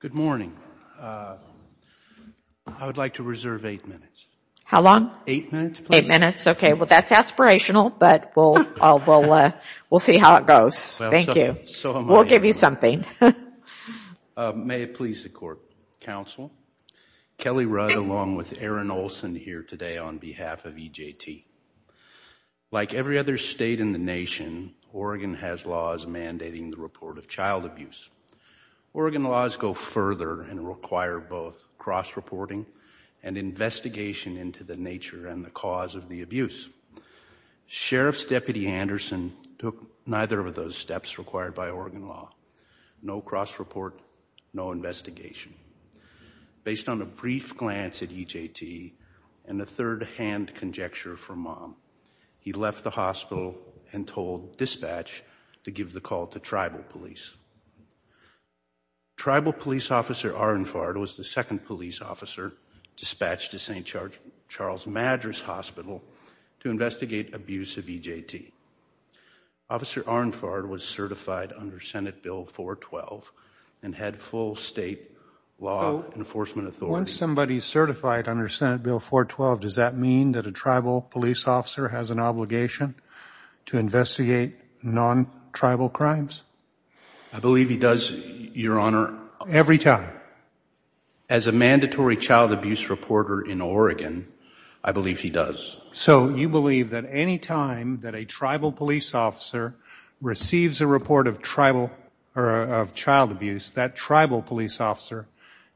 Good morning. I would like to reserve eight minutes. How long? Eight minutes, please. Eight minutes, okay. Well, that's aspirational, but we'll see how it goes. Thank you. We'll give you something. May it please the Court, Counsel, Kelly Rudd along with Erin Olson here today on behalf of E.J.T. Like every other state in the nation, Oregon has laws mandating the report of child abuse. Oregon laws go further and require both cross-reporting and investigation into the nature and the cause of the abuse. Sheriff's Deputy Anderson took neither of those steps required by Oregon law. No cross-report, no investigation. Based on a brief glance at E.J.T. and a third-hand conjecture from Mom, he left the hospital and told dispatch to give the call to tribal police. Tribal Police Officer Arnfard was the second police officer dispatched to St. Charles Madras Hospital to investigate abuse of E.J.T. Officer Arnfard was certified under Senate Bill 412 and had full state law enforcement authority. Once somebody is certified under Senate Bill 412, does that mean that a tribal police officer has an obligation to investigate non-tribal crimes? I believe he does, Your Honor. Every time? As a mandatory child abuse reporter in Oregon, I believe he does. So you believe that any time that a tribal police officer receives a report of child abuse, that tribal police officer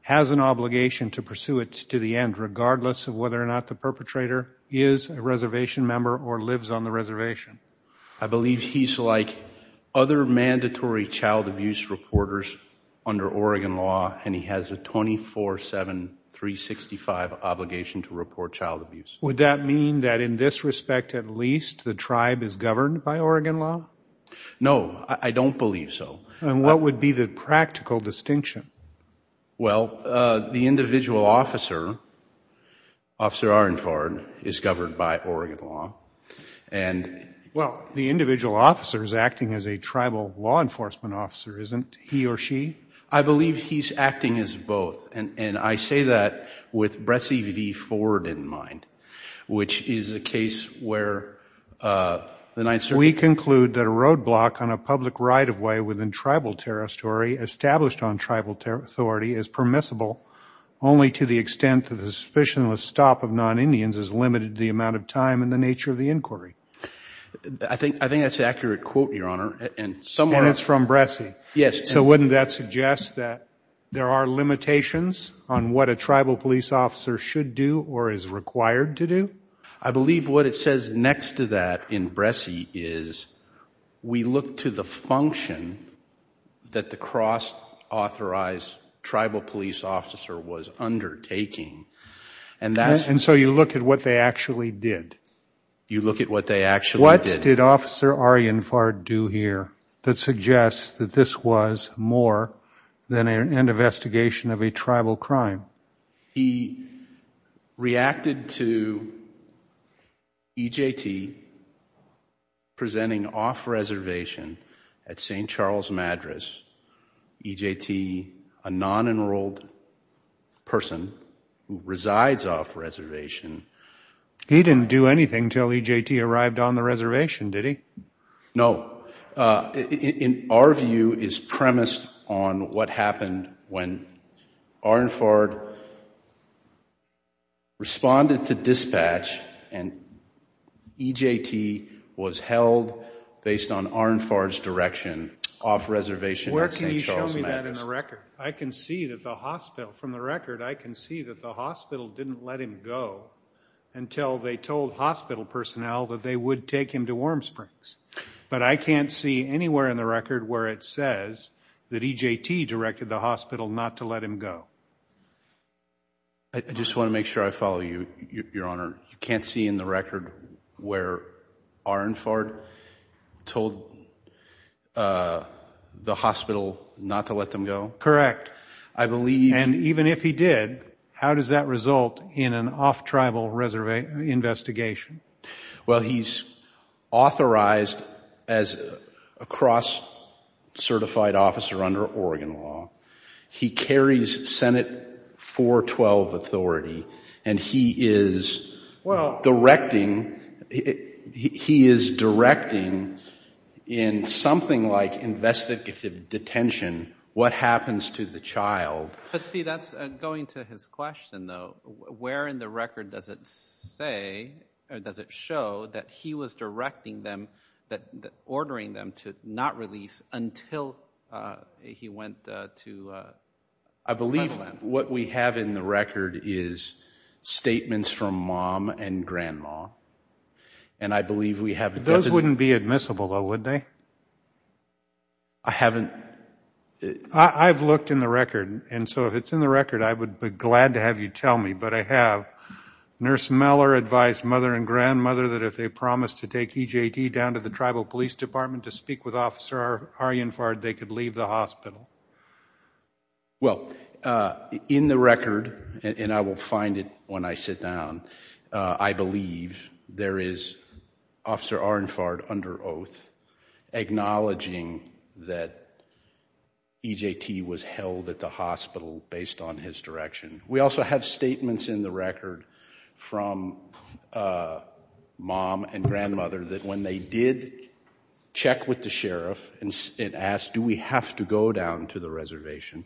has an obligation to pursue it to the end, regardless of whether or not the perpetrator is a reservation member or lives on the reservation? I believe he's like other mandatory child abuse reporters under Oregon law, and he has a 24-7, 365 obligation to report child abuse. Would that mean that in this respect, at least, the tribe is governed by Oregon law? No. I don't believe so. And what would be the practical distinction? Well, the individual officer, Officer Arnfard, is governed by Oregon law. Well, the individual officer is acting as a tribal law enforcement officer, isn't he or she? I believe he's acting as both, and I say that with Bressie v. Ford in mind, which is a case where the Ninth Circuit We conclude that a roadblock on a public right-of-way within tribal territory established on tribal authority is permissible only to the extent that the suspicionless stop of non-Indians is limited to the amount of time and the nature of the inquiry. I think that's an accurate quote, Your Honor, and somewhere And it's from Bressie? Yes. So wouldn't that suggest that there are limitations on what a tribal police officer should do or is required to do? I believe what it says next to that in Bressie is, we look to the function that the cross-authorized tribal police officer was undertaking, and that's And so you look at what they actually did? You look at what they actually did? What did Officer Arnfard do here that suggests that this was more than an investigation of a tribal crime? He reacted to EJT presenting off-reservation at St. Charles Madras, EJT, a non-enrolled person who resides off-reservation He didn't do anything until EJT arrived on the reservation, did he? No. In our view, it's premised on what happened when Arnfard responded to dispatch and EJT was held based on Arnfard's direction off-reservation at St. Charles Madras Where can you show me that in the record? I can see that the hospital, from the record, I can see that the hospital didn't let him go until they told hospital personnel that they would take him to Warm Springs. But I can't see anywhere in the record where it says that EJT directed the hospital not to let him go. I just want to make sure I follow you, Your Honor. You can't see in the record where Arnfard told the hospital not to let them go? Correct. And even if he did, how does that result in an off-tribal investigation? Well he's authorized as a cross-certified officer under Oregon law. He carries Senate 412 authority and he is directing, he is directing in something like investigative detention what happens to the child. But see, that's going to his question though. Where in the record does it say, or does it show, that he was directing them, ordering them to not release until he went to... I believe what we have in the record is statements from mom and grandma. And I believe we have... They wouldn't be admissible though, would they? I haven't... I've looked in the record, and so if it's in the record, I would be glad to have you tell me. But I have. Nurse Meller advised mother and grandmother that if they promised to take EJT down to the Tribal Police Department to speak with Officer Arnfard, they could leave the hospital. Well, in the record, and I will find it when I sit down, I believe there is Officer Arnfard under oath acknowledging that EJT was held at the hospital based on his direction. We also have statements in the record from mom and grandmother that when they did check with the sheriff and asked, do we have to go down to the reservation,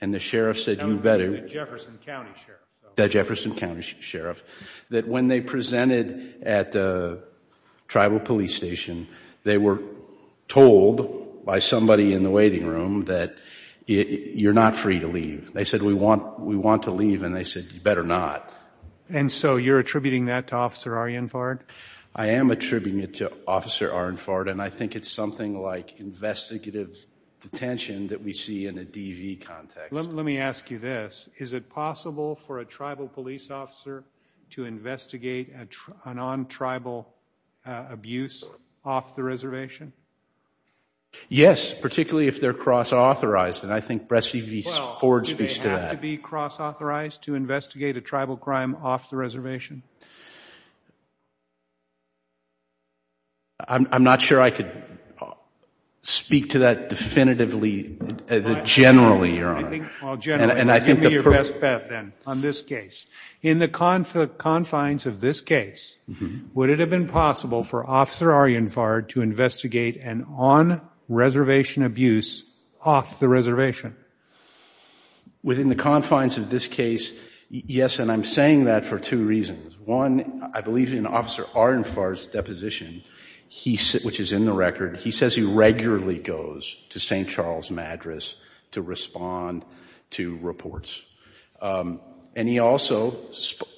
and the sheriff said you better... The Jefferson County Sheriff. The Jefferson County Sheriff. That when they presented at the Tribal Police Station, they were told by somebody in the waiting room that you're not free to leave. They said we want to leave, and they said you better not. And so you're attributing that to Officer Arnfard? I am attributing it to Officer Arnfard, and I think it's something like investigative detention that we see in a DV context. Let me ask you this. Is it possible for a Tribal Police Officer to investigate a non-tribal abuse off the reservation? Yes, particularly if they're cross-authorized, and I think Brescivice Ford speaks to that. Well, do they have to be cross-authorized to investigate a tribal crime off the reservation? I'm not sure I could speak to that definitively, generally, Your Honor. And I think the... Well, generally, give me your best bet, then, on this case. In the confines of this case, would it have been possible for Officer Arnfard to investigate an on-reservation abuse off the reservation? Within the confines of this case, yes, and I'm saying that for two reasons. One, I believe in Officer Arnfard's deposition, which is in the record, he says he regularly goes to St. Charles Madras to respond to reports. And he also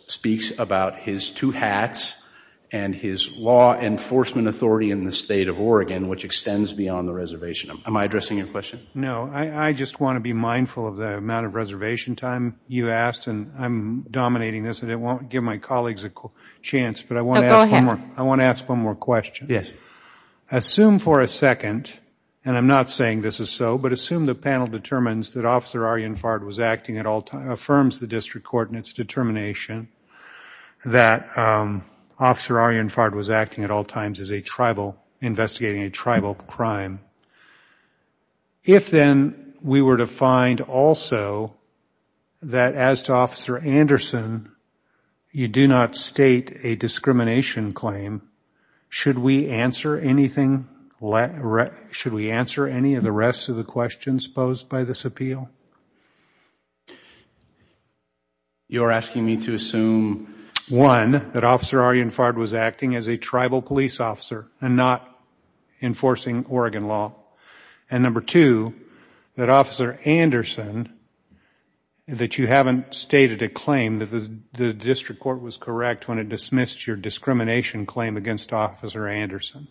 speaks about his two hats and his law enforcement authority in the State of Oregon, which extends beyond the reservation. Am I addressing your question? No. I just want to be mindful of the amount of reservation time you asked, and I'm dominating this and it won't give my colleagues a chance, but I want to ask one more question. Assume for a second, and I'm not saying this is so, but assume the panel determines that Officer Arnfard was acting at all times, affirms the district court in its determination that Officer Arnfard was acting at all times as a tribal, investigating a tribal crime. If then we were to find also that as to Officer Anderson, you do not state a discrimination claim, should we answer anything, should we answer any of the rest of the questions posed by this appeal? You are asking me to assume, one, that Officer Arnfard was acting as a tribal police officer and not enforcing Oregon law, and number two, that Officer Anderson, that you haven't stated a claim that the district court was correct when it dismissed your discrimination claim against Officer Anderson.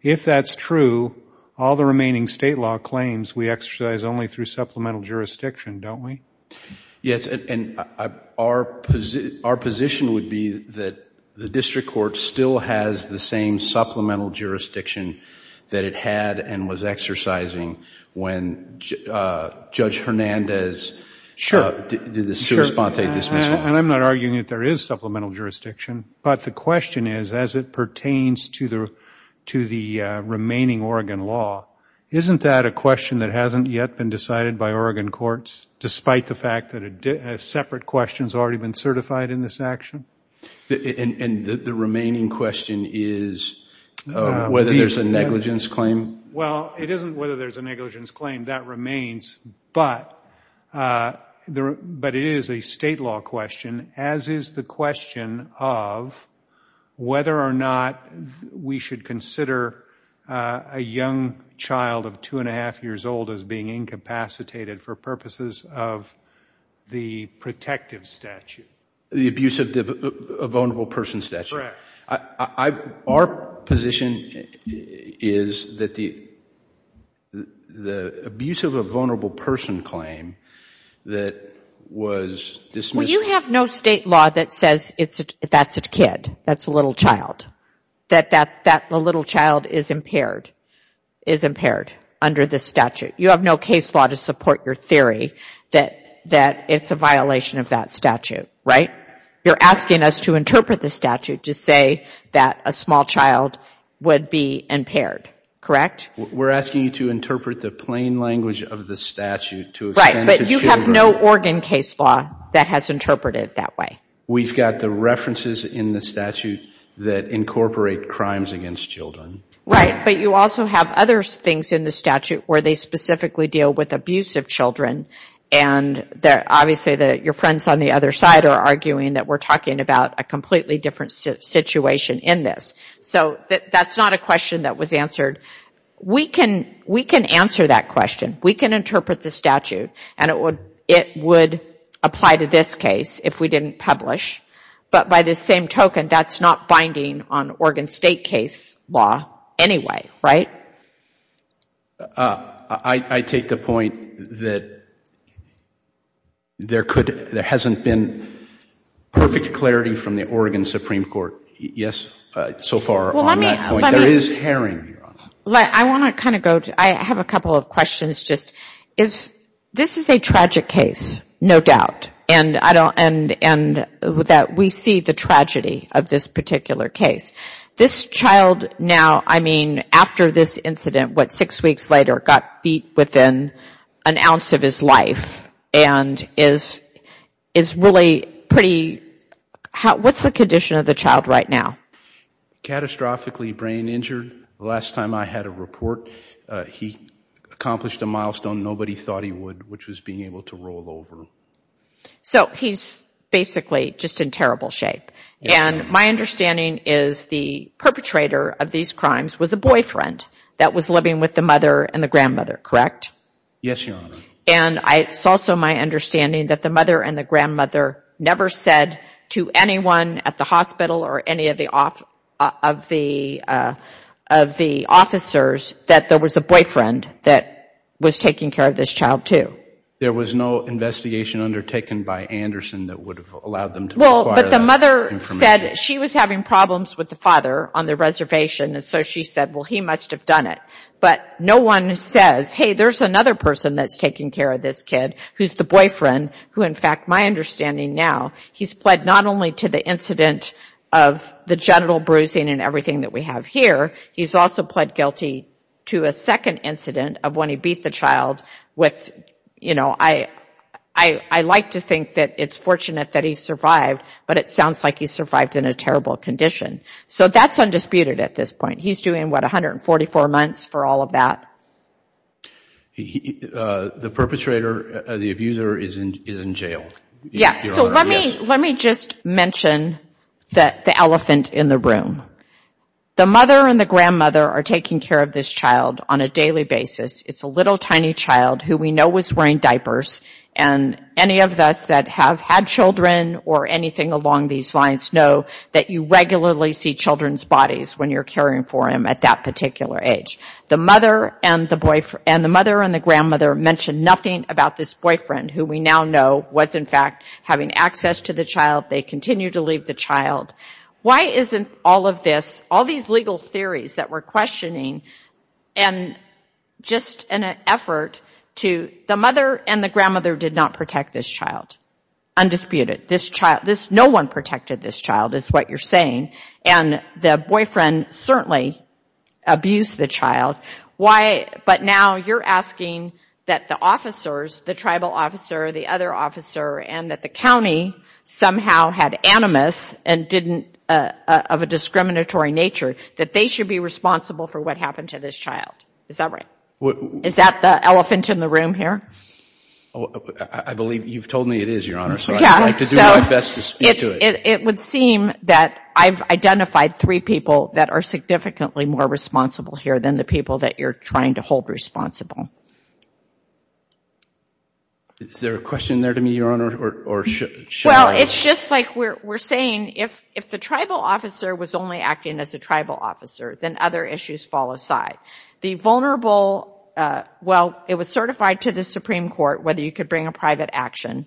If that's true, all the remaining state law claims we exercise only through supplemental jurisdiction, don't we? Yes, and our position would be that the district court still has the same supplemental jurisdiction that it had and was exercising when Judge Hernandez did the sui sponte dismissal. Sure, and I'm not arguing that there is supplemental jurisdiction, but the question is, as it pertains to the remaining Oregon law, isn't that a question that hasn't yet been decided by Oregon courts, despite the fact that a separate question has already been certified in this action? The remaining question is whether there's a negligence claim? Well, it isn't whether there's a negligence claim, that remains, but it is a state law question, as is the question of whether or not we should consider a young child of two and a half years old as being incapacitated for purposes of the protective statute. The abuse of a vulnerable person statute? Our position is that the abuse of a vulnerable person claim that was dismissed... Well, you have no state law that says that's a kid, that's a little child, that that little child is impaired under the statute. You have no case law to support your theory that it's a violation of that statute, right? You're asking us to interpret the statute to say that a small child would be impaired, correct? We're asking you to interpret the plain language of the statute to extend to children... Right, but you have no Oregon case law that has interpreted it that way. We've got the references in the statute that incorporate crimes against children. Right, but you also have other things in the statute where they specifically deal with abuse of children, and obviously your friends on the other side are arguing that we're talking about a completely different situation in this. So that's not a question that was answered. We can answer that question. We can interpret the statute, and it would apply to this case if we didn't publish. But by the same token, that's not binding on Oregon state case law anyway, right? I take the point that there hasn't been perfect clarity from the Oregon Supreme Court so far on that point. There is herring, Your Honor. I want to kind of go to... I have a couple of questions. This is a tragic case, no doubt, and that we see the tragedy of this particular case. This child now, I mean, after this incident, what, six weeks later, got beat within an ounce of his life, and is really pretty... what's the condition of the child right now? Catastrophically brain injured. The last time I had a report, he accomplished a milestone nobody thought he would, which was being able to roll over. So he's basically just in terrible shape. And my understanding is the perpetrator of these crimes was a boyfriend that was living with the mother and the grandmother, correct? Yes, Your Honor. And it's also my understanding that the mother and the grandmother never said to anyone at the hospital or any of the officers that there was a boyfriend that was taking care of this child, too. There was no investigation undertaken by Anderson that would have allowed them to... Well, but the mother said she was having problems with the father on the reservation, and so she said, well, he must have done it. But no one says, hey, there's another person that's taking care of this kid who's the boyfriend, who in fact my understanding now, he's pled not only to the incident of the genital bruising and everything that we have here, he's also pled guilty to a second incident of when he beat the child with, you know, I like to think that it's fortunate that he survived, but it sounds like he survived in a terrible condition. So that's undisputed at this point. He's doing, what, 144 months for all of that? The perpetrator, the abuser, is in jail. Yes. So let me just mention the elephant in the room. The mother and the grandmother are taking care of this child on a daily basis. It's a little tiny child who we know was wearing diapers, and any of us that have had children or anything along these lines know that you regularly see children's bodies when you're caring for him at that particular age. The mother and the grandmother mention nothing about this boyfriend, who we now know was in fact having access to the child. They continue to leave the child. Why isn't all of this, all these legal theories that we're questioning, and just an effort to, the mother and the grandmother did not protect this child. Undisputed. This child, this, no one protected this child is what you're saying, and the boyfriend certainly abused the child. Why, but now you're asking that the officers, the tribal officer, the other officer, and that the county somehow had animus and didn't, of a discriminatory nature, that they should be responsible for what happened to this child. Is that right? Is that the elephant in the room here? I believe you've told me it is, Your Honor, so I could do my best to speak to it. It would seem that I've identified three people that are significantly more responsible here than the people that you're trying to hold responsible. Is there a question there to me, Your Honor, or should I? It's just like we're saying, if the tribal officer was only acting as a tribal officer, then other issues fall aside. The vulnerable, well, it was certified to the Supreme Court whether you could bring a private action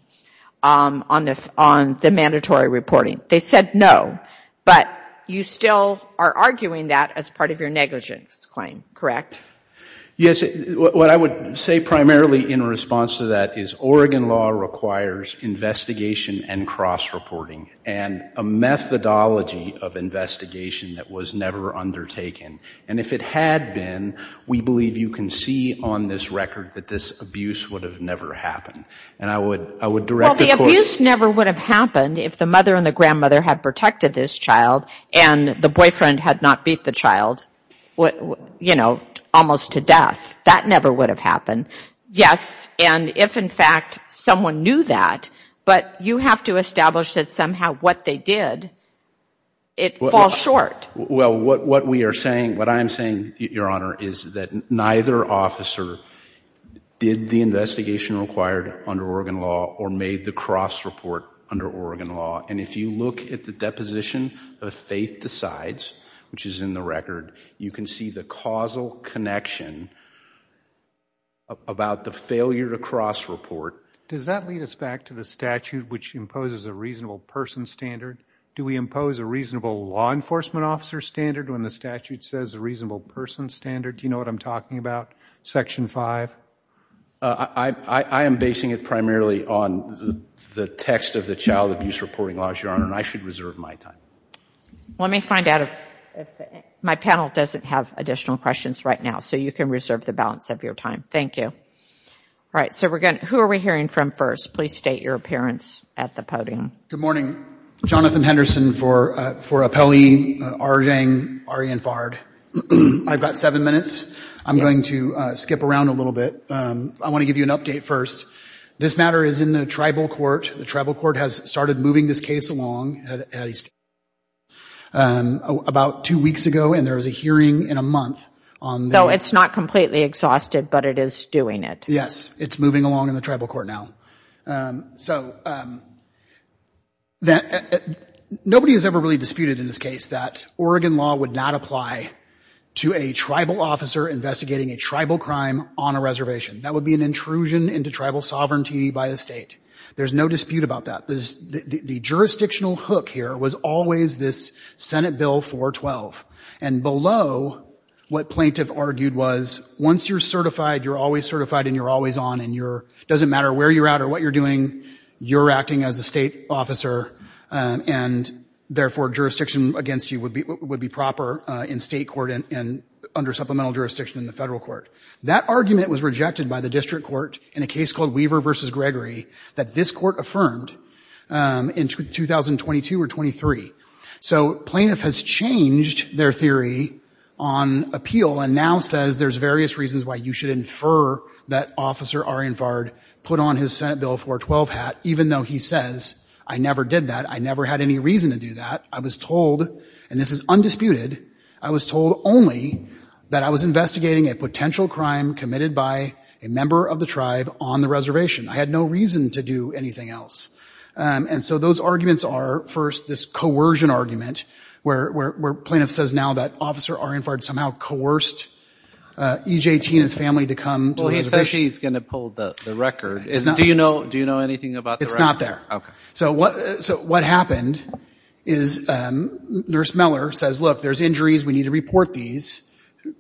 on the mandatory reporting. They said no, but you still are arguing that as part of your negligence claim, correct? Yes, what I would say primarily in response to that is, Oregon law requires investigation and cross-reporting and a methodology of investigation that was never undertaken. And if it had been, we believe you can see on this record that this abuse would have never happened. And I would direct the court to Well, the abuse never would have happened if the mother and the grandmother had protected this child and the boyfriend had not beat the child, you know, almost to death. That never would have happened. Yes, and if in fact someone knew that, but you have to establish that somehow what they did, it falls short. Well, what we are saying, what I am saying, Your Honor, is that neither officer did the investigation required under Oregon law or made the cross-report under Oregon law. And if you look at the deposition of Faith Decides, which is in the record, you can see the causal connection about the failure to cross-report. Does that lead us back to the statute which imposes a reasonable person standard? Do we impose a reasonable law enforcement officer standard when the statute says a reasonable person standard? Do you know what I am talking about? Section 5? I am basing it primarily on the text of the child abuse reporting laws, Your Honor, and I should reserve my time. Let me find out if my panel doesn't have additional questions right now so you can reserve the balance of your time. Thank you. All right, so who are we hearing from first? Please state your appearance at the podium. Good morning. Jonathan Henderson for Appellee Arjang Aryan Fard. I've got seven minutes. I'm going to skip around a little bit. I want to give you an update first. This matter is in the tribal court. The tribal court has started moving this case along at least about two weeks ago, and there was a hearing in a month. So it's not completely exhausted, but it is doing it. Yes, it's moving along in the tribal court now. So nobody has ever really disputed in this case that Oregon law would not apply to a tribal officer investigating a tribal crime on a reservation. That would be an intrusion into tribal sovereignty by a state. There's no dispute about that. The jurisdictional hook here was always this Senate Bill 412, and below what plaintiff argued was once you're certified, you're always certified and you're always on, and it doesn't matter where you're at or what you're doing, you're acting as a state officer, and therefore jurisdiction against you would be proper in state court and under supplemental jurisdiction in the federal court. That argument was rejected by the district court in a case called Weaver v. Gregory that this court affirmed in 2022 or 23. So plaintiff has changed their theory on appeal and now says there's various reasons why you should infer that Officer Arian Fard put on his Senate Bill 412 hat even though he says, I never did that, I never had any reason to do that. I was told, and this is undisputed, I was told only that I was investigating a potential crime committed by a member of the tribe on the reservation. I had no reason to do anything else. And so those arguments are, first, this coercion argument where plaintiff says now that Officer Arian Fard somehow coerced EJT and his family to come to the reservation. Well, he said she's going to pull the record. Do you know anything about the record? It's not there. Okay. So what happened is Nurse Meller says, look, there's injuries, we need to report these.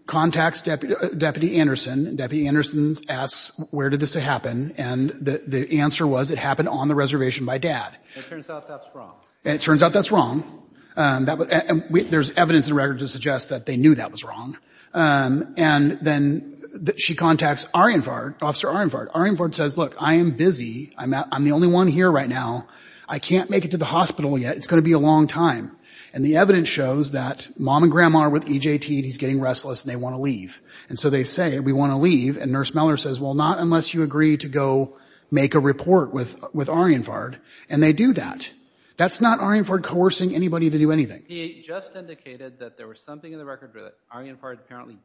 Contacts Deputy Anderson. Deputy Anderson asks, where did this happen? And the answer was it happened on the reservation by Dad. It turns out that's wrong. It turns out that's wrong. There's evidence in the record to suggest that they knew that was wrong. And then she contacts Arian Fard, Officer Arian Fard. Arian Fard says, look, I am busy. I'm the only one here right now. I can't make it to the hospital yet. It's going to be a long time. And the evidence shows that Mom and Grandma are with EJT and he's getting restless and they want to leave. And so they say, we want to leave. And Nurse Meller says, well, not unless you agree to go make a report with Arian Fard. And they do that. That's not Arian Fard coercing anybody to do anything. He just indicated that there was something in the record where Arian Fard apparently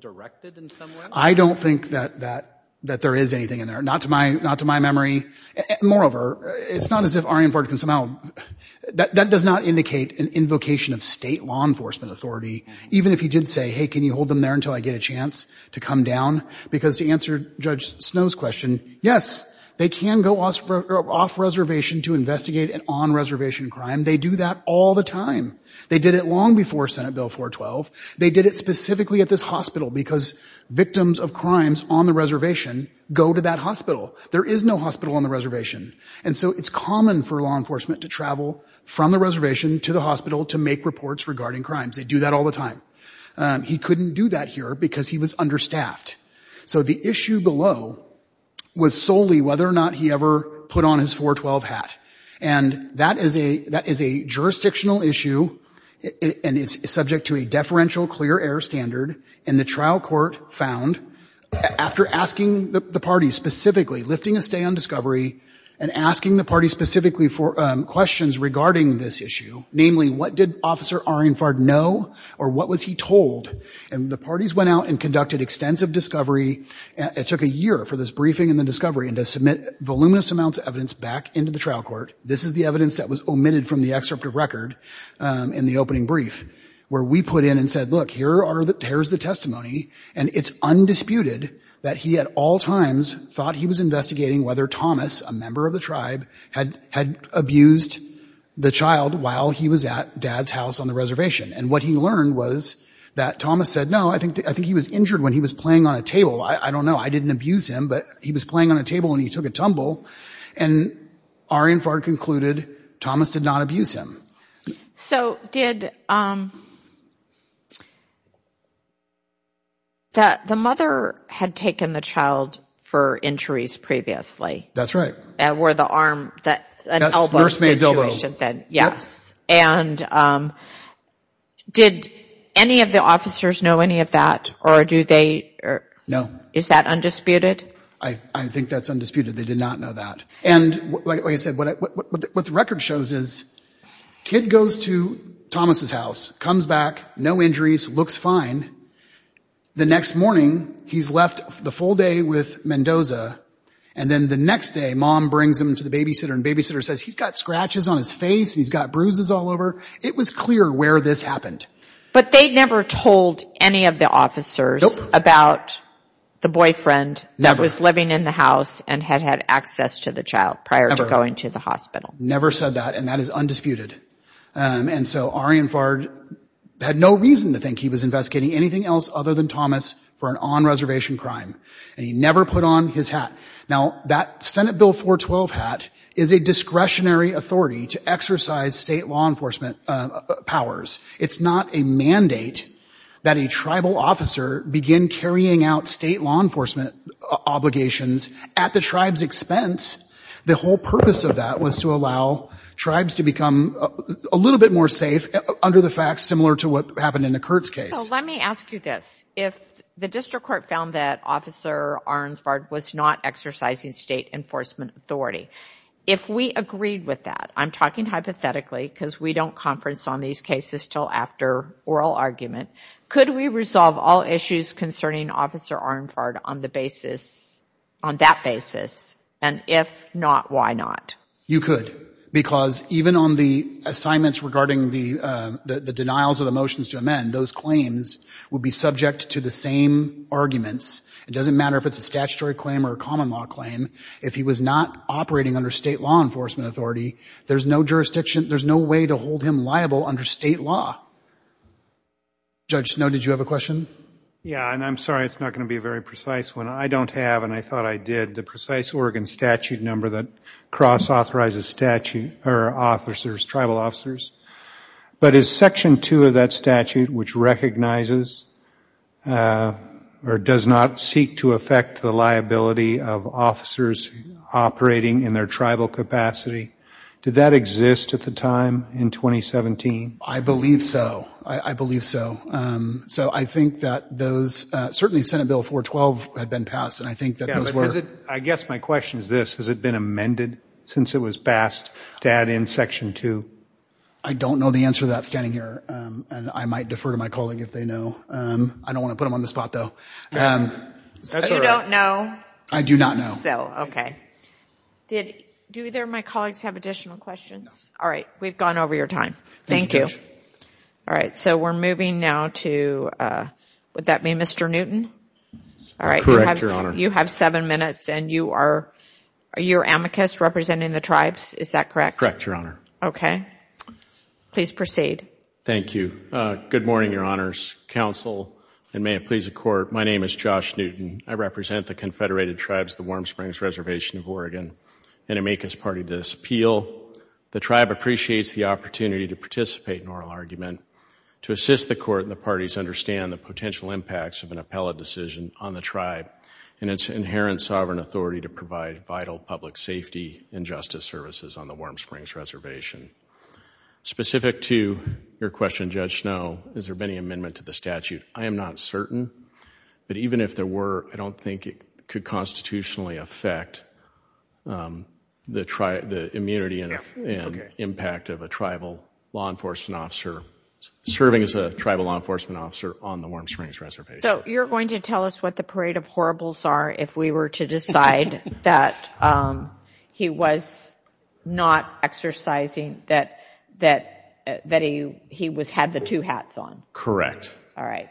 directed in some way? I don't think that there is anything in there. Not to my memory. Moreover, it's not as if Arian Fard can somehow, that does not indicate an invocation of state law enforcement authority. Even if he did say, hey, can you hold them there until I get a chance to come down? Because to answer Judge Snow's question, yes, they can go off reservation to investigate an on-reservation crime. They do that all the time. They did it long before Senate Bill 412. They did it specifically at this hospital because victims of crimes on the reservation go to that hospital. There is no hospital on the reservation. And so it's common for law enforcement to travel from the reservation to the hospital to make reports regarding crimes. They do that all the time. He couldn't do that here because he was understaffed. So the issue below was solely whether or not he ever put on his 412 hat. And that is a jurisdictional issue, and it's subject to a deferential clear air standard. And the trial court found, after asking the parties specifically, lifting a stay on discovery, and asking the parties specifically for questions regarding this issue, namely, what did Officer Arian Fard know or what was he told? And the parties went out and conducted extensive discovery. It took a year for this briefing and the discovery and to submit voluminous amounts of evidence back into the trial court. This is the evidence that was omitted from the excerpt of record in the opening brief where we put in and said, look, here's the testimony, and it's undisputed that he at all times thought he was investigating whether Thomas, a member of the tribe, had abused the child while he was at Dad's house on the reservation. And what he learned was that Thomas said, no, I think he was injured when he was playing on a table. I don't know. I didn't abuse him, but he was playing on a table and he took a tumble. And Arian Fard concluded Thomas did not abuse him. So did – the mother had taken the child for injuries previously. That's right. And wore the arm – an elbow situation. Yes. And did any of the officers know any of that or do they – No. Is that undisputed? I think that's undisputed. They did not know that. And like I said, what the record shows is kid goes to Thomas' house, comes back, no injuries, looks fine. The next morning, he's left the full day with Mendoza. And then the next day, Mom brings him to the babysitter and the babysitter says, he's got scratches on his face and he's got bruises all over. It was clear where this happened. But they never told any of the officers about the boyfriend that was living in the house and had had access to the child prior to going to the hospital. Never said that. And that is undisputed. And so Arian Fard had no reason to think he was investigating anything else other than Thomas for an on-reservation crime. And he never put on his hat. Now, that Senate Bill 412 hat is a discretionary authority to exercise state law enforcement powers. It's not a mandate that a tribal officer begin carrying out state law enforcement obligations at the tribe's expense. The whole purpose of that was to allow tribes to become a little bit more safe under the facts similar to what happened in the Kurtz case. So let me ask you this. If the district court found that Officer Arian Fard was not exercising state enforcement authority, if we agreed with that, I'm talking hypothetically because we don't conference on these cases until after oral argument, could we resolve all issues concerning Officer Arian Fard on the basis, on that basis, and if not, why not? You could. Because even on the assignments regarding the denials of the motions to amend, those claims would be subject to the same arguments. It doesn't matter if it's a statutory claim or a common law claim. If he was not operating under state law enforcement authority, there's no jurisdiction, there's no way to hold him liable under state law. Judge Snow, did you have a question? Yeah, and I'm sorry it's not going to be a very precise one. I don't have, and I thought I did, the precise Oregon statute number that cross-authorizes officers, tribal officers. But is Section 2 of that statute, which recognizes or does not seek to affect the liability of officers operating in their tribal capacity, did that exist at the time in 2017? I believe so. I believe so. So I think that those, certainly Senate Bill 412 had been passed, and I think that those were. I guess my question is this, has it been amended since it was passed to add in Section 2? I don't know the answer to that standing here, and I might defer to my colleague if they know. I don't want to put them on the spot, though. You don't know? I do not know. Okay. Do either of my colleagues have additional questions? No. All right, we've gone over your time. Thank you. Thank you, Judge. All right, so we're moving now to, would that be Mr. Newton? Correct, Your Honor. You have seven minutes, and you are, you're amicus representing the tribes, is that correct? Correct, Your Honor. Okay. Please proceed. Thank you. Good morning, Your Honors. Counsel, and may it please the Court, my name is Josh Newton. I represent the Confederated Tribes of the Warm Springs Reservation of Oregon. In amicus part of this appeal, the tribe appreciates the opportunity to participate in oral argument, to assist the Court and the parties understand the potential impacts of an appellate decision on the tribe. And its inherent sovereign authority to provide vital public safety and justice services on the Warm Springs Reservation. Specific to your question, Judge Snow, is there been any amendment to the statute? I am not certain. But even if there were, I don't think it could constitutionally affect the immunity and impact of a tribal law enforcement officer serving as a tribal law enforcement officer on the Warm Springs Reservation. So you're going to tell us what the parade of horribles are if we were to decide that he was not exercising, that he had the two hats on? Correct. All right.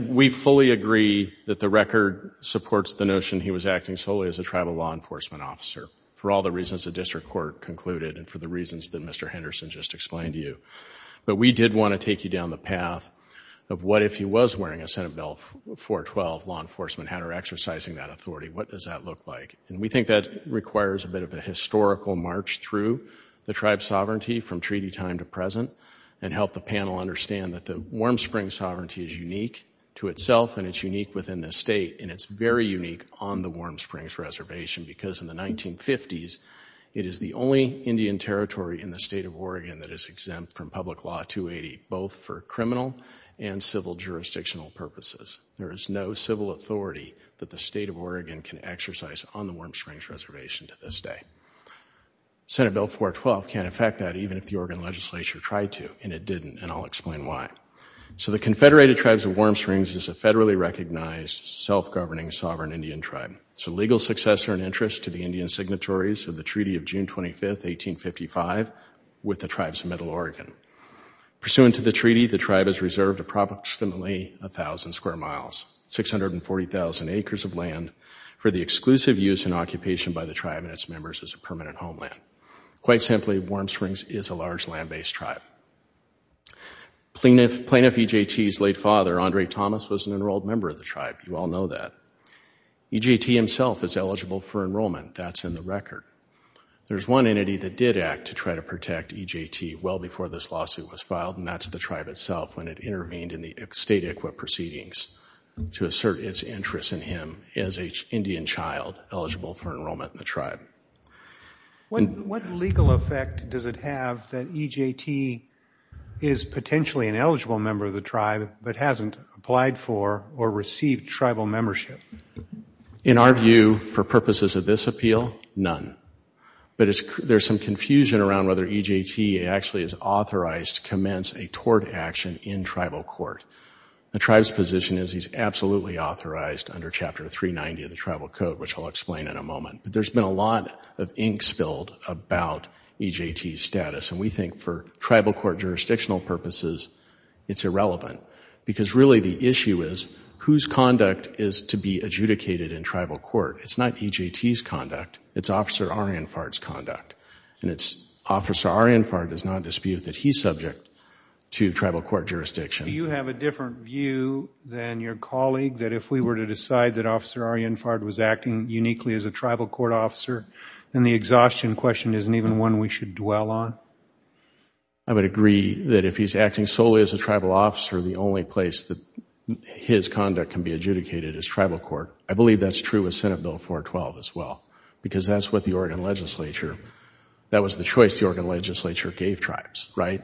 We fully agree that the record supports the notion he was acting solely as a tribal law enforcement officer for all the reasons the district court concluded and for the reasons that Mr. Henderson just explained to you. But we did want to take you down the path of what if he was wearing a Senate Bill 412 law enforcement hat or exercising that authority, what does that look like? And we think that requires a bit of a historical march through the tribe's sovereignty from treaty time to present and help the panel understand that the Warm Springs sovereignty is unique to itself and it's unique within the state and it's very unique on the Warm Springs Reservation because in the 1950s it is the only Indian territory in the state of Oregon that is exempt from Public Law 280 both for criminal and civil jurisdictional purposes. There is no civil authority that the state of Oregon can exercise on the Warm Springs Reservation to this day. Senate Bill 412 can't affect that even if the Oregon legislature tried to and it didn't and I'll explain why. So the Confederated Tribes of Warm Springs is a federally recognized, self-governing, sovereign Indian tribe. It's a legal successor in interest to the Indian signatories of the Treaty of June 25, 1855 with the tribes of Middle Oregon. Pursuant to the treaty, the tribe is reserved approximately 1,000 square miles, 640,000 acres of land for the exclusive use and occupation by the tribe and its members as a permanent homeland. Quite simply, Warm Springs is a large land-based tribe. Plaintiff EJT's late father, Andre Thomas, was an enrolled member of the tribe. You all know that. EJT himself is eligible for enrollment. That's in the record. There's one entity that did act to try to protect EJT well before this lawsuit was filed and that's the tribe itself when it intervened in the state ICWA proceedings to assert its interest in him as an Indian child eligible for enrollment in the tribe. What legal effect does it have that EJT is potentially an eligible member of the tribe but hasn't applied for or received tribal membership? In our view, for purposes of this appeal, none. But there's some confusion around whether EJT actually is authorized to commence a tort action in tribal court. The tribe's position is he's absolutely authorized under Chapter 390 of the tribal code, which I'll explain in a moment. But there's been a lot of ink spilled about EJT's status, and we think for tribal court jurisdictional purposes it's irrelevant. Because really the issue is whose conduct is to be adjudicated in tribal court. It's not EJT's conduct. It's Officer Arianfard's conduct. And it's Officer Arianfard does not dispute that he's subject to tribal court jurisdiction. Do you have a different view than your colleague that if we were to decide that Officer Arianfard was acting uniquely as a tribal court officer, then the exhaustion question isn't even one we should dwell on? I would agree that if he's acting solely as a tribal officer, the only place that his conduct can be adjudicated is tribal court. I believe that's true with Senate Bill 412 as well. Because that's what the Oregon Legislature, that was the choice the Oregon Legislature gave tribes, right?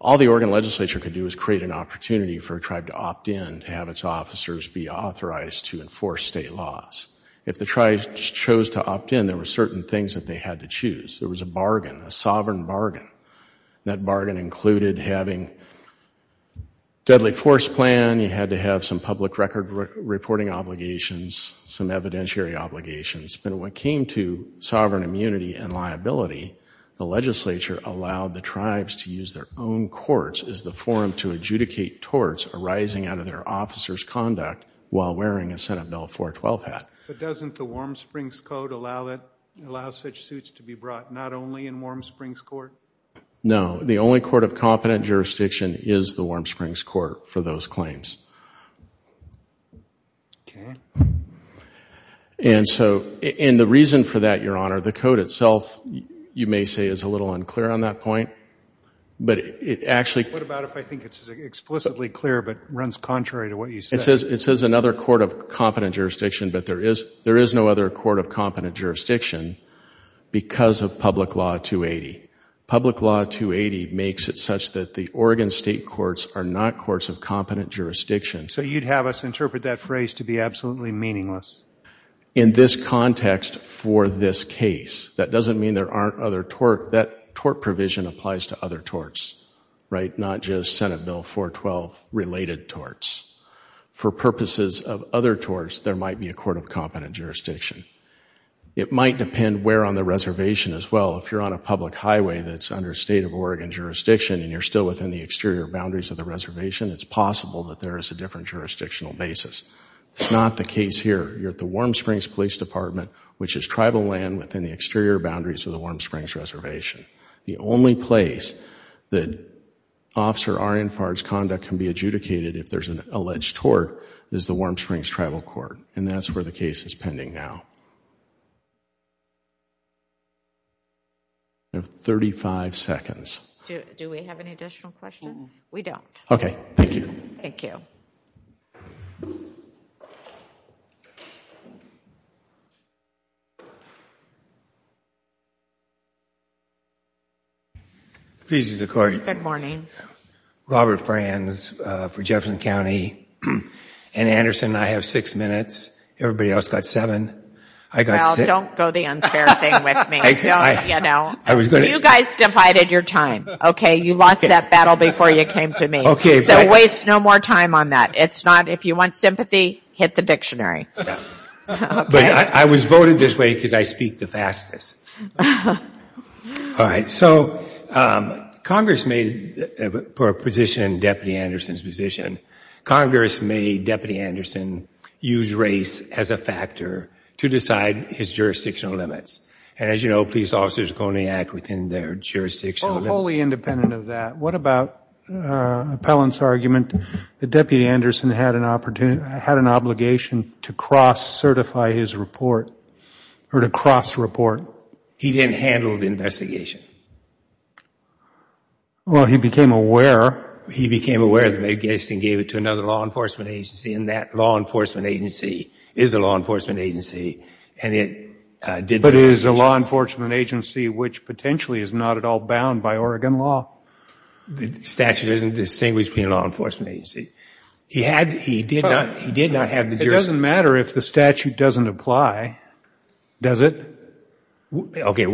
All the Oregon Legislature could do is create an opportunity for a tribe to opt in, to have its officers be authorized to enforce state laws. If the tribes chose to opt in, there were certain things that they had to choose. There was a bargain, a sovereign bargain. That bargain included having deadly force plan, you had to have some public record reporting obligations, some evidentiary obligations. But when it came to sovereign immunity and liability, the legislature allowed the tribes to use their own courts as the forum to adjudicate torts arising out of their officers' conduct while wearing a Senate Bill 412 hat. But doesn't the Warm Springs Code allow such suits to be brought not only in Warm Springs Court? No. The only court of competent jurisdiction is the Warm Springs Court for those claims. Okay. And so, and the reason for that, Your Honor, the code itself, you may say, is a little unclear on that point. But it actually... What about if I think it's explicitly clear but runs contrary to what you said? It says another court of competent jurisdiction, but there is no other court of competent jurisdiction because of Public Law 280. Public Law 280 makes it such that the Oregon State Courts are not courts of competent jurisdiction. So you'd have us interpret that phrase to be absolutely meaningless? In this context for this case. That doesn't mean there aren't other torts. That tort provision applies to other torts, right, not just Senate Bill 412-related torts. For purposes of other torts, there might be a court of competent jurisdiction. It might depend where on the reservation as well. If you're on a public highway that's under State of Oregon jurisdiction and you're still within the exterior boundaries of the reservation, it's possible that there is a different jurisdictional basis. It's not the case here. You're at the Warm Springs Police Department, which is tribal land within the exterior boundaries of the Warm Springs Reservation. The only place that Officer Arian Farr's conduct can be adjudicated if there's an alleged tort is the Warm Springs Tribal Court, and that's where the case is pending now. You have 35 seconds. Do we have any additional questions? We don't. Okay, thank you. Thank you. Good morning. Robert Franz for Jefferson County. And Anderson, I have six minutes. Everybody else got seven. Well, don't go the unfair thing with me. You guys divided your time, okay? You lost that battle before you came to me. So waste no more time on that. It's not if you want sympathy, hit the dictionary. But I was voted this way because I speak the fastest. All right. So Congress may, for a position in Deputy Anderson's position, Congress may, Deputy Anderson, use race as a factor to decide his jurisdictional limits. And as you know, police officers only act within their jurisdictional limits. Well, wholly independent of that, what about Appellant's argument that Deputy Anderson had an obligation to cross-certify his report or to cross-report? He didn't handle the investigation. Well, he became aware. He became aware of it and gave it to another law enforcement agency, and that law enforcement agency is a law enforcement agency. But it is a law enforcement agency which potentially is not at all bound by Oregon law. The statute isn't distinguished between law enforcement agencies. He did not have the jurisdiction. It doesn't matter if the statute doesn't apply, does it? Okay.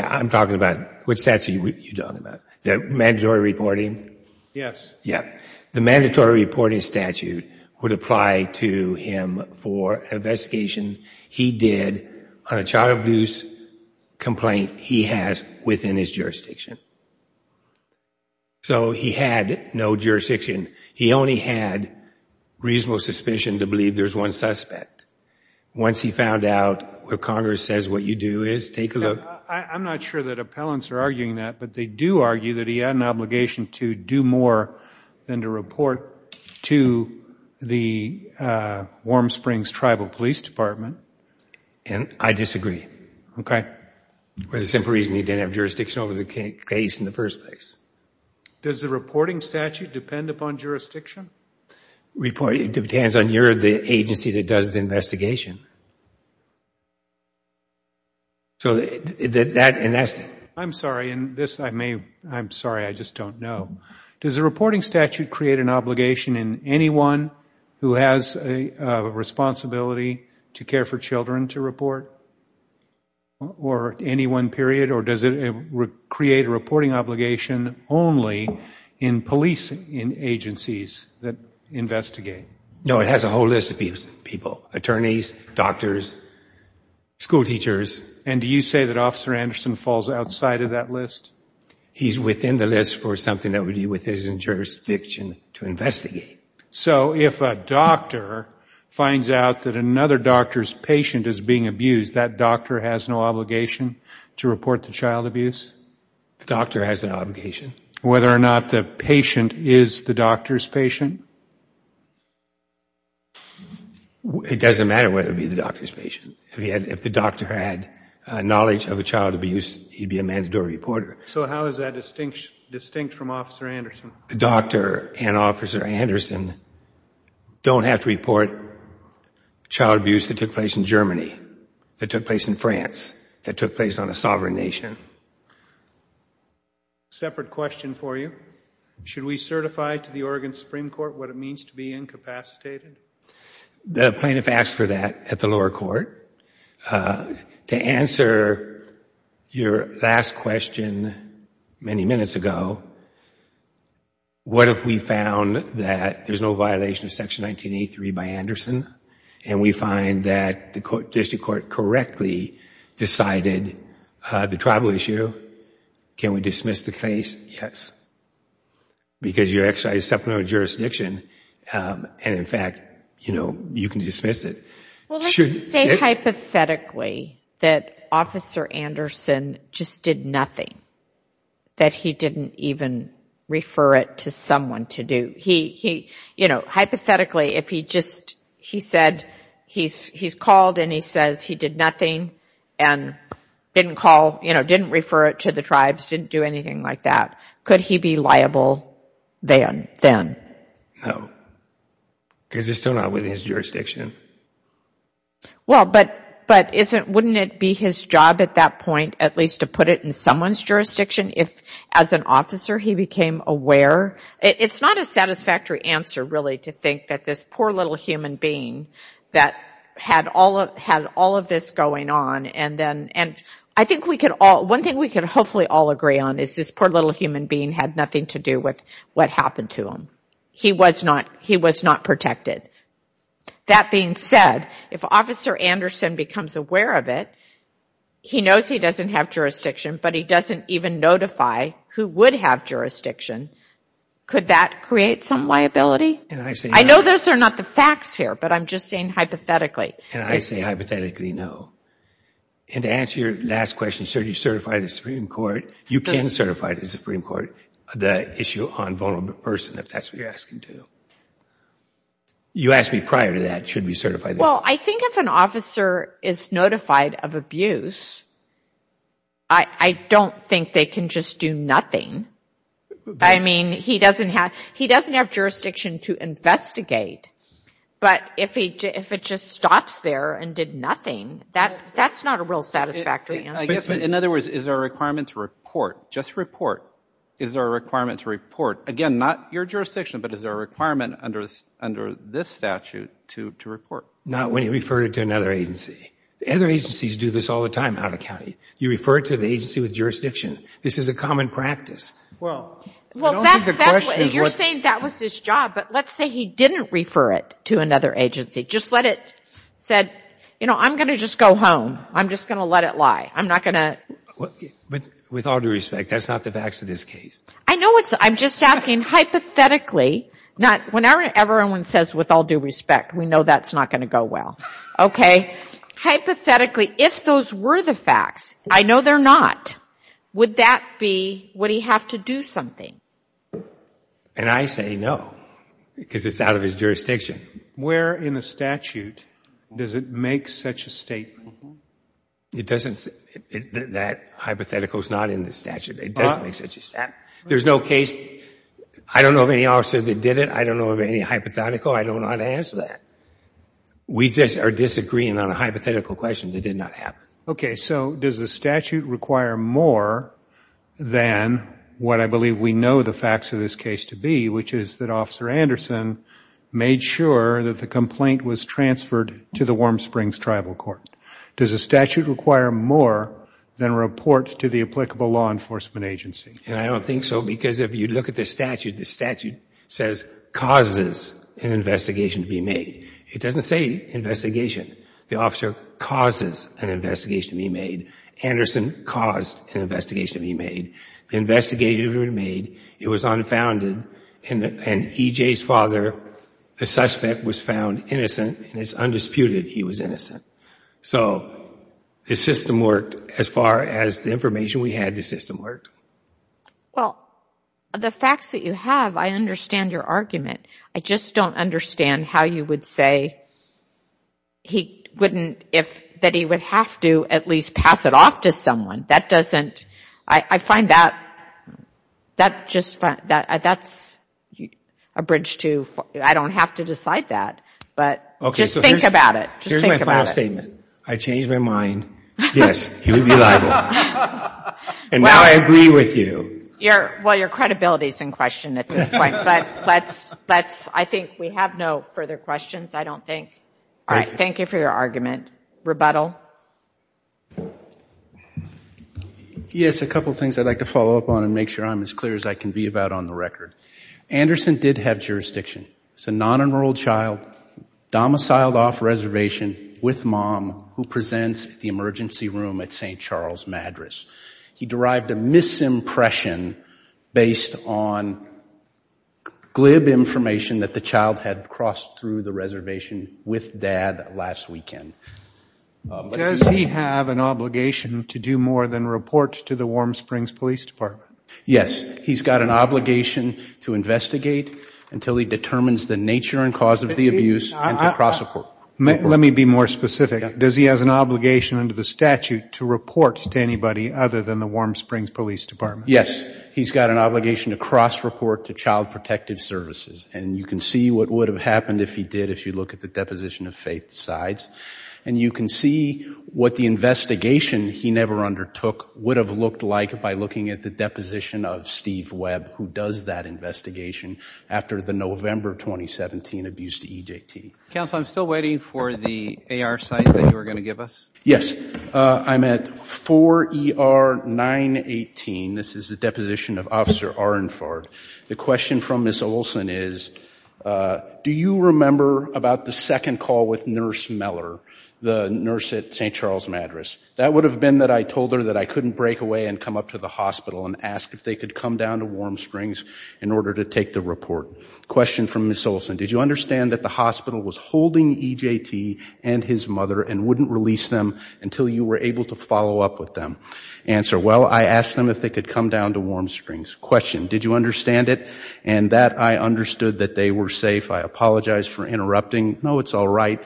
I'm talking about what statute you're talking about, the mandatory reporting? Yes. Yeah. The mandatory reporting statute would apply to him for an investigation he did on a child abuse complaint he has within his jurisdiction. So he had no jurisdiction. He only had reasonable suspicion to believe there's one suspect. Once he found out what Congress says what you do is, take a look. I'm not sure that Appellants are arguing that, but they do argue that he had an obligation to do more than to report to the Warm Springs Tribal Police Department. And I disagree, okay, for the simple reason he didn't have jurisdiction over the case in the first place. Does the reporting statute depend upon jurisdiction? It depends on your agency that does the investigation. I'm sorry, I just don't know. Does the reporting statute create an obligation in anyone who has a responsibility to care for children to report, or any one period? Or does it create a reporting obligation only in police agencies that investigate? No, it has a whole list of people, attorneys, doctors, school teachers. And do you say that Officer Anderson falls outside of that list? He's within the list for something that would be within his jurisdiction to investigate. So if a doctor finds out that another doctor's patient is being abused, that doctor has no obligation to report the child abuse? The doctor has no obligation. Whether or not the patient is the doctor's patient? It doesn't matter whether it be the doctor's patient. If the doctor had knowledge of a child abuse, he'd be a mandatory reporter. So how is that distinct from Officer Anderson? The doctor and Officer Anderson don't have to report child abuse that took place in Germany. That took place in France. That took place on a sovereign nation. Separate question for you. Should we certify to the Oregon Supreme Court what it means to be incapacitated? The plaintiff asked for that at the lower court. To answer your last question many minutes ago, what if we found that there's no violation of Section 1983 by Anderson and we find that the district court correctly decided the tribal issue? Can we dismiss the case? Yes. Because you're exercising supplemental jurisdiction and, in fact, you can dismiss it. Well, let's just say hypothetically that Officer Anderson just did nothing, that he didn't even refer it to someone to do. Hypothetically, if he said he's called and he says he did nothing and didn't call, didn't refer it to the tribes, didn't do anything like that, could he be liable then? No. Because it's still not within his jurisdiction. Well, but wouldn't it be his job at that point at least to put it in someone's jurisdiction if as an officer he became aware? It's not a satisfactory answer really to think that this poor little human being that had all of this going on and I think one thing we can hopefully all agree on is this poor little human being had nothing to do with what happened to him. He was not protected. That being said, if Officer Anderson becomes aware of it, he knows he doesn't have jurisdiction, but he doesn't even notify who would have jurisdiction, could that create some liability? I know those are not the facts here, but I'm just saying hypothetically. And I say hypothetically no. And to answer your last question, sir, do you certify the Supreme Court, you can certify the Supreme Court the issue on vulnerable person if that's what you're asking too. You asked me prior to that, should we certify this? Well, I think if an officer is notified of abuse, I don't think they can just do nothing. I mean, he doesn't have jurisdiction to investigate, but if it just stops there and did nothing, that's not a real satisfactory answer. In other words, is there a requirement to report, just report? Is there a requirement to report? Again, not your jurisdiction, but is there a requirement under this statute to report? Not when you refer it to another agency. Other agencies do this all the time out of county. You refer it to the agency with jurisdiction. This is a common practice. Well, you're saying that was his job, but let's say he didn't refer it to another agency, just let it said, you know, I'm going to just go home. I'm just going to let it lie. I'm not going to. With all due respect, that's not the facts of this case. I know it's not. I'm just asking hypothetically. When everyone says with all due respect, we know that's not going to go well. Okay. Hypothetically, if those were the facts, I know they're not, would that be would he have to do something? And I say no, because it's out of his jurisdiction. Where in the statute does it make such a statement? It doesn't. That hypothetical is not in the statute. It doesn't make such a statement. There's no case. I don't know of any officer that did it. I don't know of any hypothetical. I don't know how to answer that. We just are disagreeing on a hypothetical question that did not happen. Okay, so does the statute require more than what I believe we know the facts of this case to be, which is that Officer Anderson made sure that the complaint was transferred to the Warm Springs Tribal Court? Does the statute require more than a report to the applicable law enforcement agency? And I don't think so, because if you look at the statute, the statute says causes an investigation to be made. It doesn't say investigation. The officer causes an investigation to be made. Anderson caused an investigation to be made. The investigation was made. It was unfounded. And EJ's father, the suspect, was found innocent, and it's undisputed he was innocent. So the system worked as far as the information we had, the system worked. Well, the facts that you have, I understand your argument. I just don't understand how you would say he wouldn't, that he would have to at least pass it off to someone. That doesn't, I find that, that's a bridge to, I don't have to decide that. But just think about it. Here's my final statement. I changed my mind. Yes, he would be liable. And now I agree with you. Well, your credibility is in question at this point. But let's, I think we have no further questions, I don't think. Thank you for your argument. Rebuttal. Yes, a couple things I'd like to follow up on and make sure I'm as clear as I can be about on the record. Anderson did have jurisdiction. It's a non-enrolled child, domiciled off reservation with mom, who presents at the emergency room at St. Charles Madras. He derived a misimpression based on glib information that the child had crossed through the reservation with dad last weekend. Does he have an obligation to do more than report to the Warm Springs Police Department? Yes. He's got an obligation to investigate until he determines the nature and cause of the abuse and to cross report. Let me be more specific. Does he have an obligation under the statute to report to anybody other than the Warm Springs Police Department? He's got an obligation to cross report to Child Protective Services. And you can see what would have happened if he did if you look at the deposition of Faith Sides. And you can see what the investigation he never undertook would have looked like by looking at the deposition of Steve Webb, who does that investigation after the November 2017 abuse to EJT. Counsel, I'm still waiting for the AR site that you were going to give us. Yes. I'm at 4ER918. This is the deposition of Officer Arendvard. The question from Ms. Olson is, do you remember about the second call with Nurse Meller, the nurse at St. Charles Madras? That would have been that I told her that I couldn't break away and come up to the hospital and ask if they could come down to Warm Springs in order to take the report. Question from Ms. Olson. Did you understand that the hospital was holding EJT and his mother and wouldn't release them until you were able to follow up with them? Answer. Well, I asked them if they could come down to Warm Springs. Question. Did you understand it? And that I understood that they were safe. I apologize for interrupting. No, it's all right.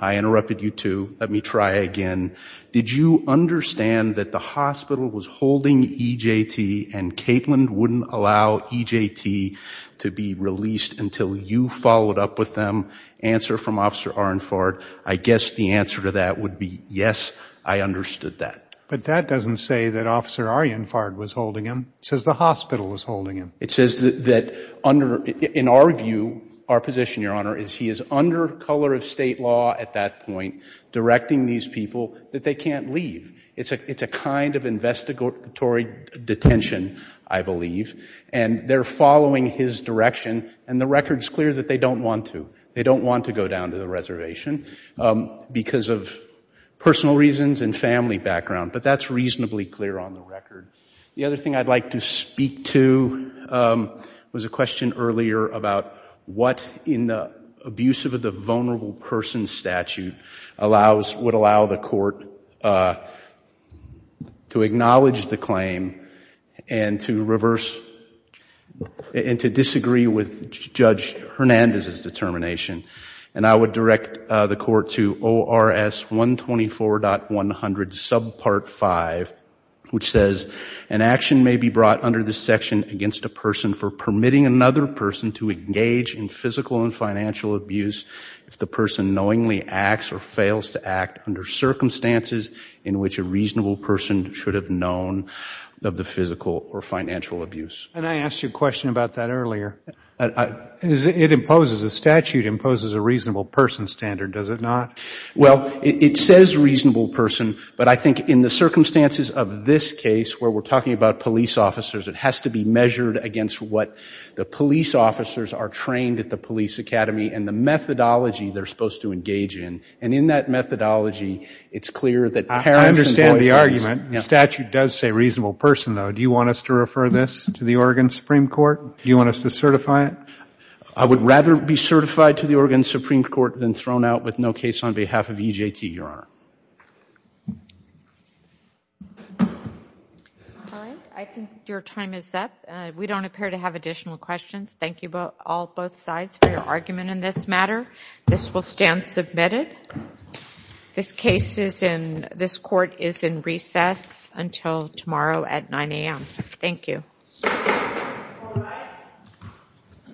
I interrupted you too. Let me try again. Did you understand that the hospital was holding EJT and Caitlin wouldn't allow EJT to be released until you followed up with them? Answer from Officer Arendvard. I guess the answer to that would be yes, I understood that. But that doesn't say that Officer Arendvard was holding him. It says the hospital was holding him. It says that in our view, our position, Your Honor, is he is under color of state law at that point, directing these people that they can't leave. It's a kind of investigatory detention, I believe, and they're following his direction, and the record is clear that they don't want to. They don't want to go down to the reservation because of personal reasons and family background. But that's reasonably clear on the record. The other thing I'd like to speak to was a question earlier about what, in the abuse of the vulnerable person statute, would allow the court to acknowledge the claim and to reverse and to disagree with Judge Hernandez's determination. And I would direct the court to ORS 124.100 subpart 5, which says, an action may be brought under this section against a person for permitting another person to engage in physical and financial abuse if the person knowingly acts or fails to act under circumstances in which a reasonable person should have known of the physical or financial abuse. And I asked you a question about that earlier. It imposes, the statute imposes a reasonable person standard, does it not? Well, it says reasonable person, but I think in the circumstances of this case, where we're talking about police officers, it has to be measured against what the police officers are trained at the police academy and the methodology they're supposed to engage in. And in that methodology, it's clear that parents and boyfriends. I understand the argument. The statute does say reasonable person, though. Do you want us to refer this to the Oregon Supreme Court? Do you want us to certify it? I would rather be certified to the Oregon Supreme Court than thrown out with no case on behalf of EJT, Your Honor. All right. I think your time is up. We don't appear to have additional questions. Thank you, both sides, for your argument in this matter. This will stand submitted. This case is in, this court is in recess until tomorrow at 9 a.m. Thank you.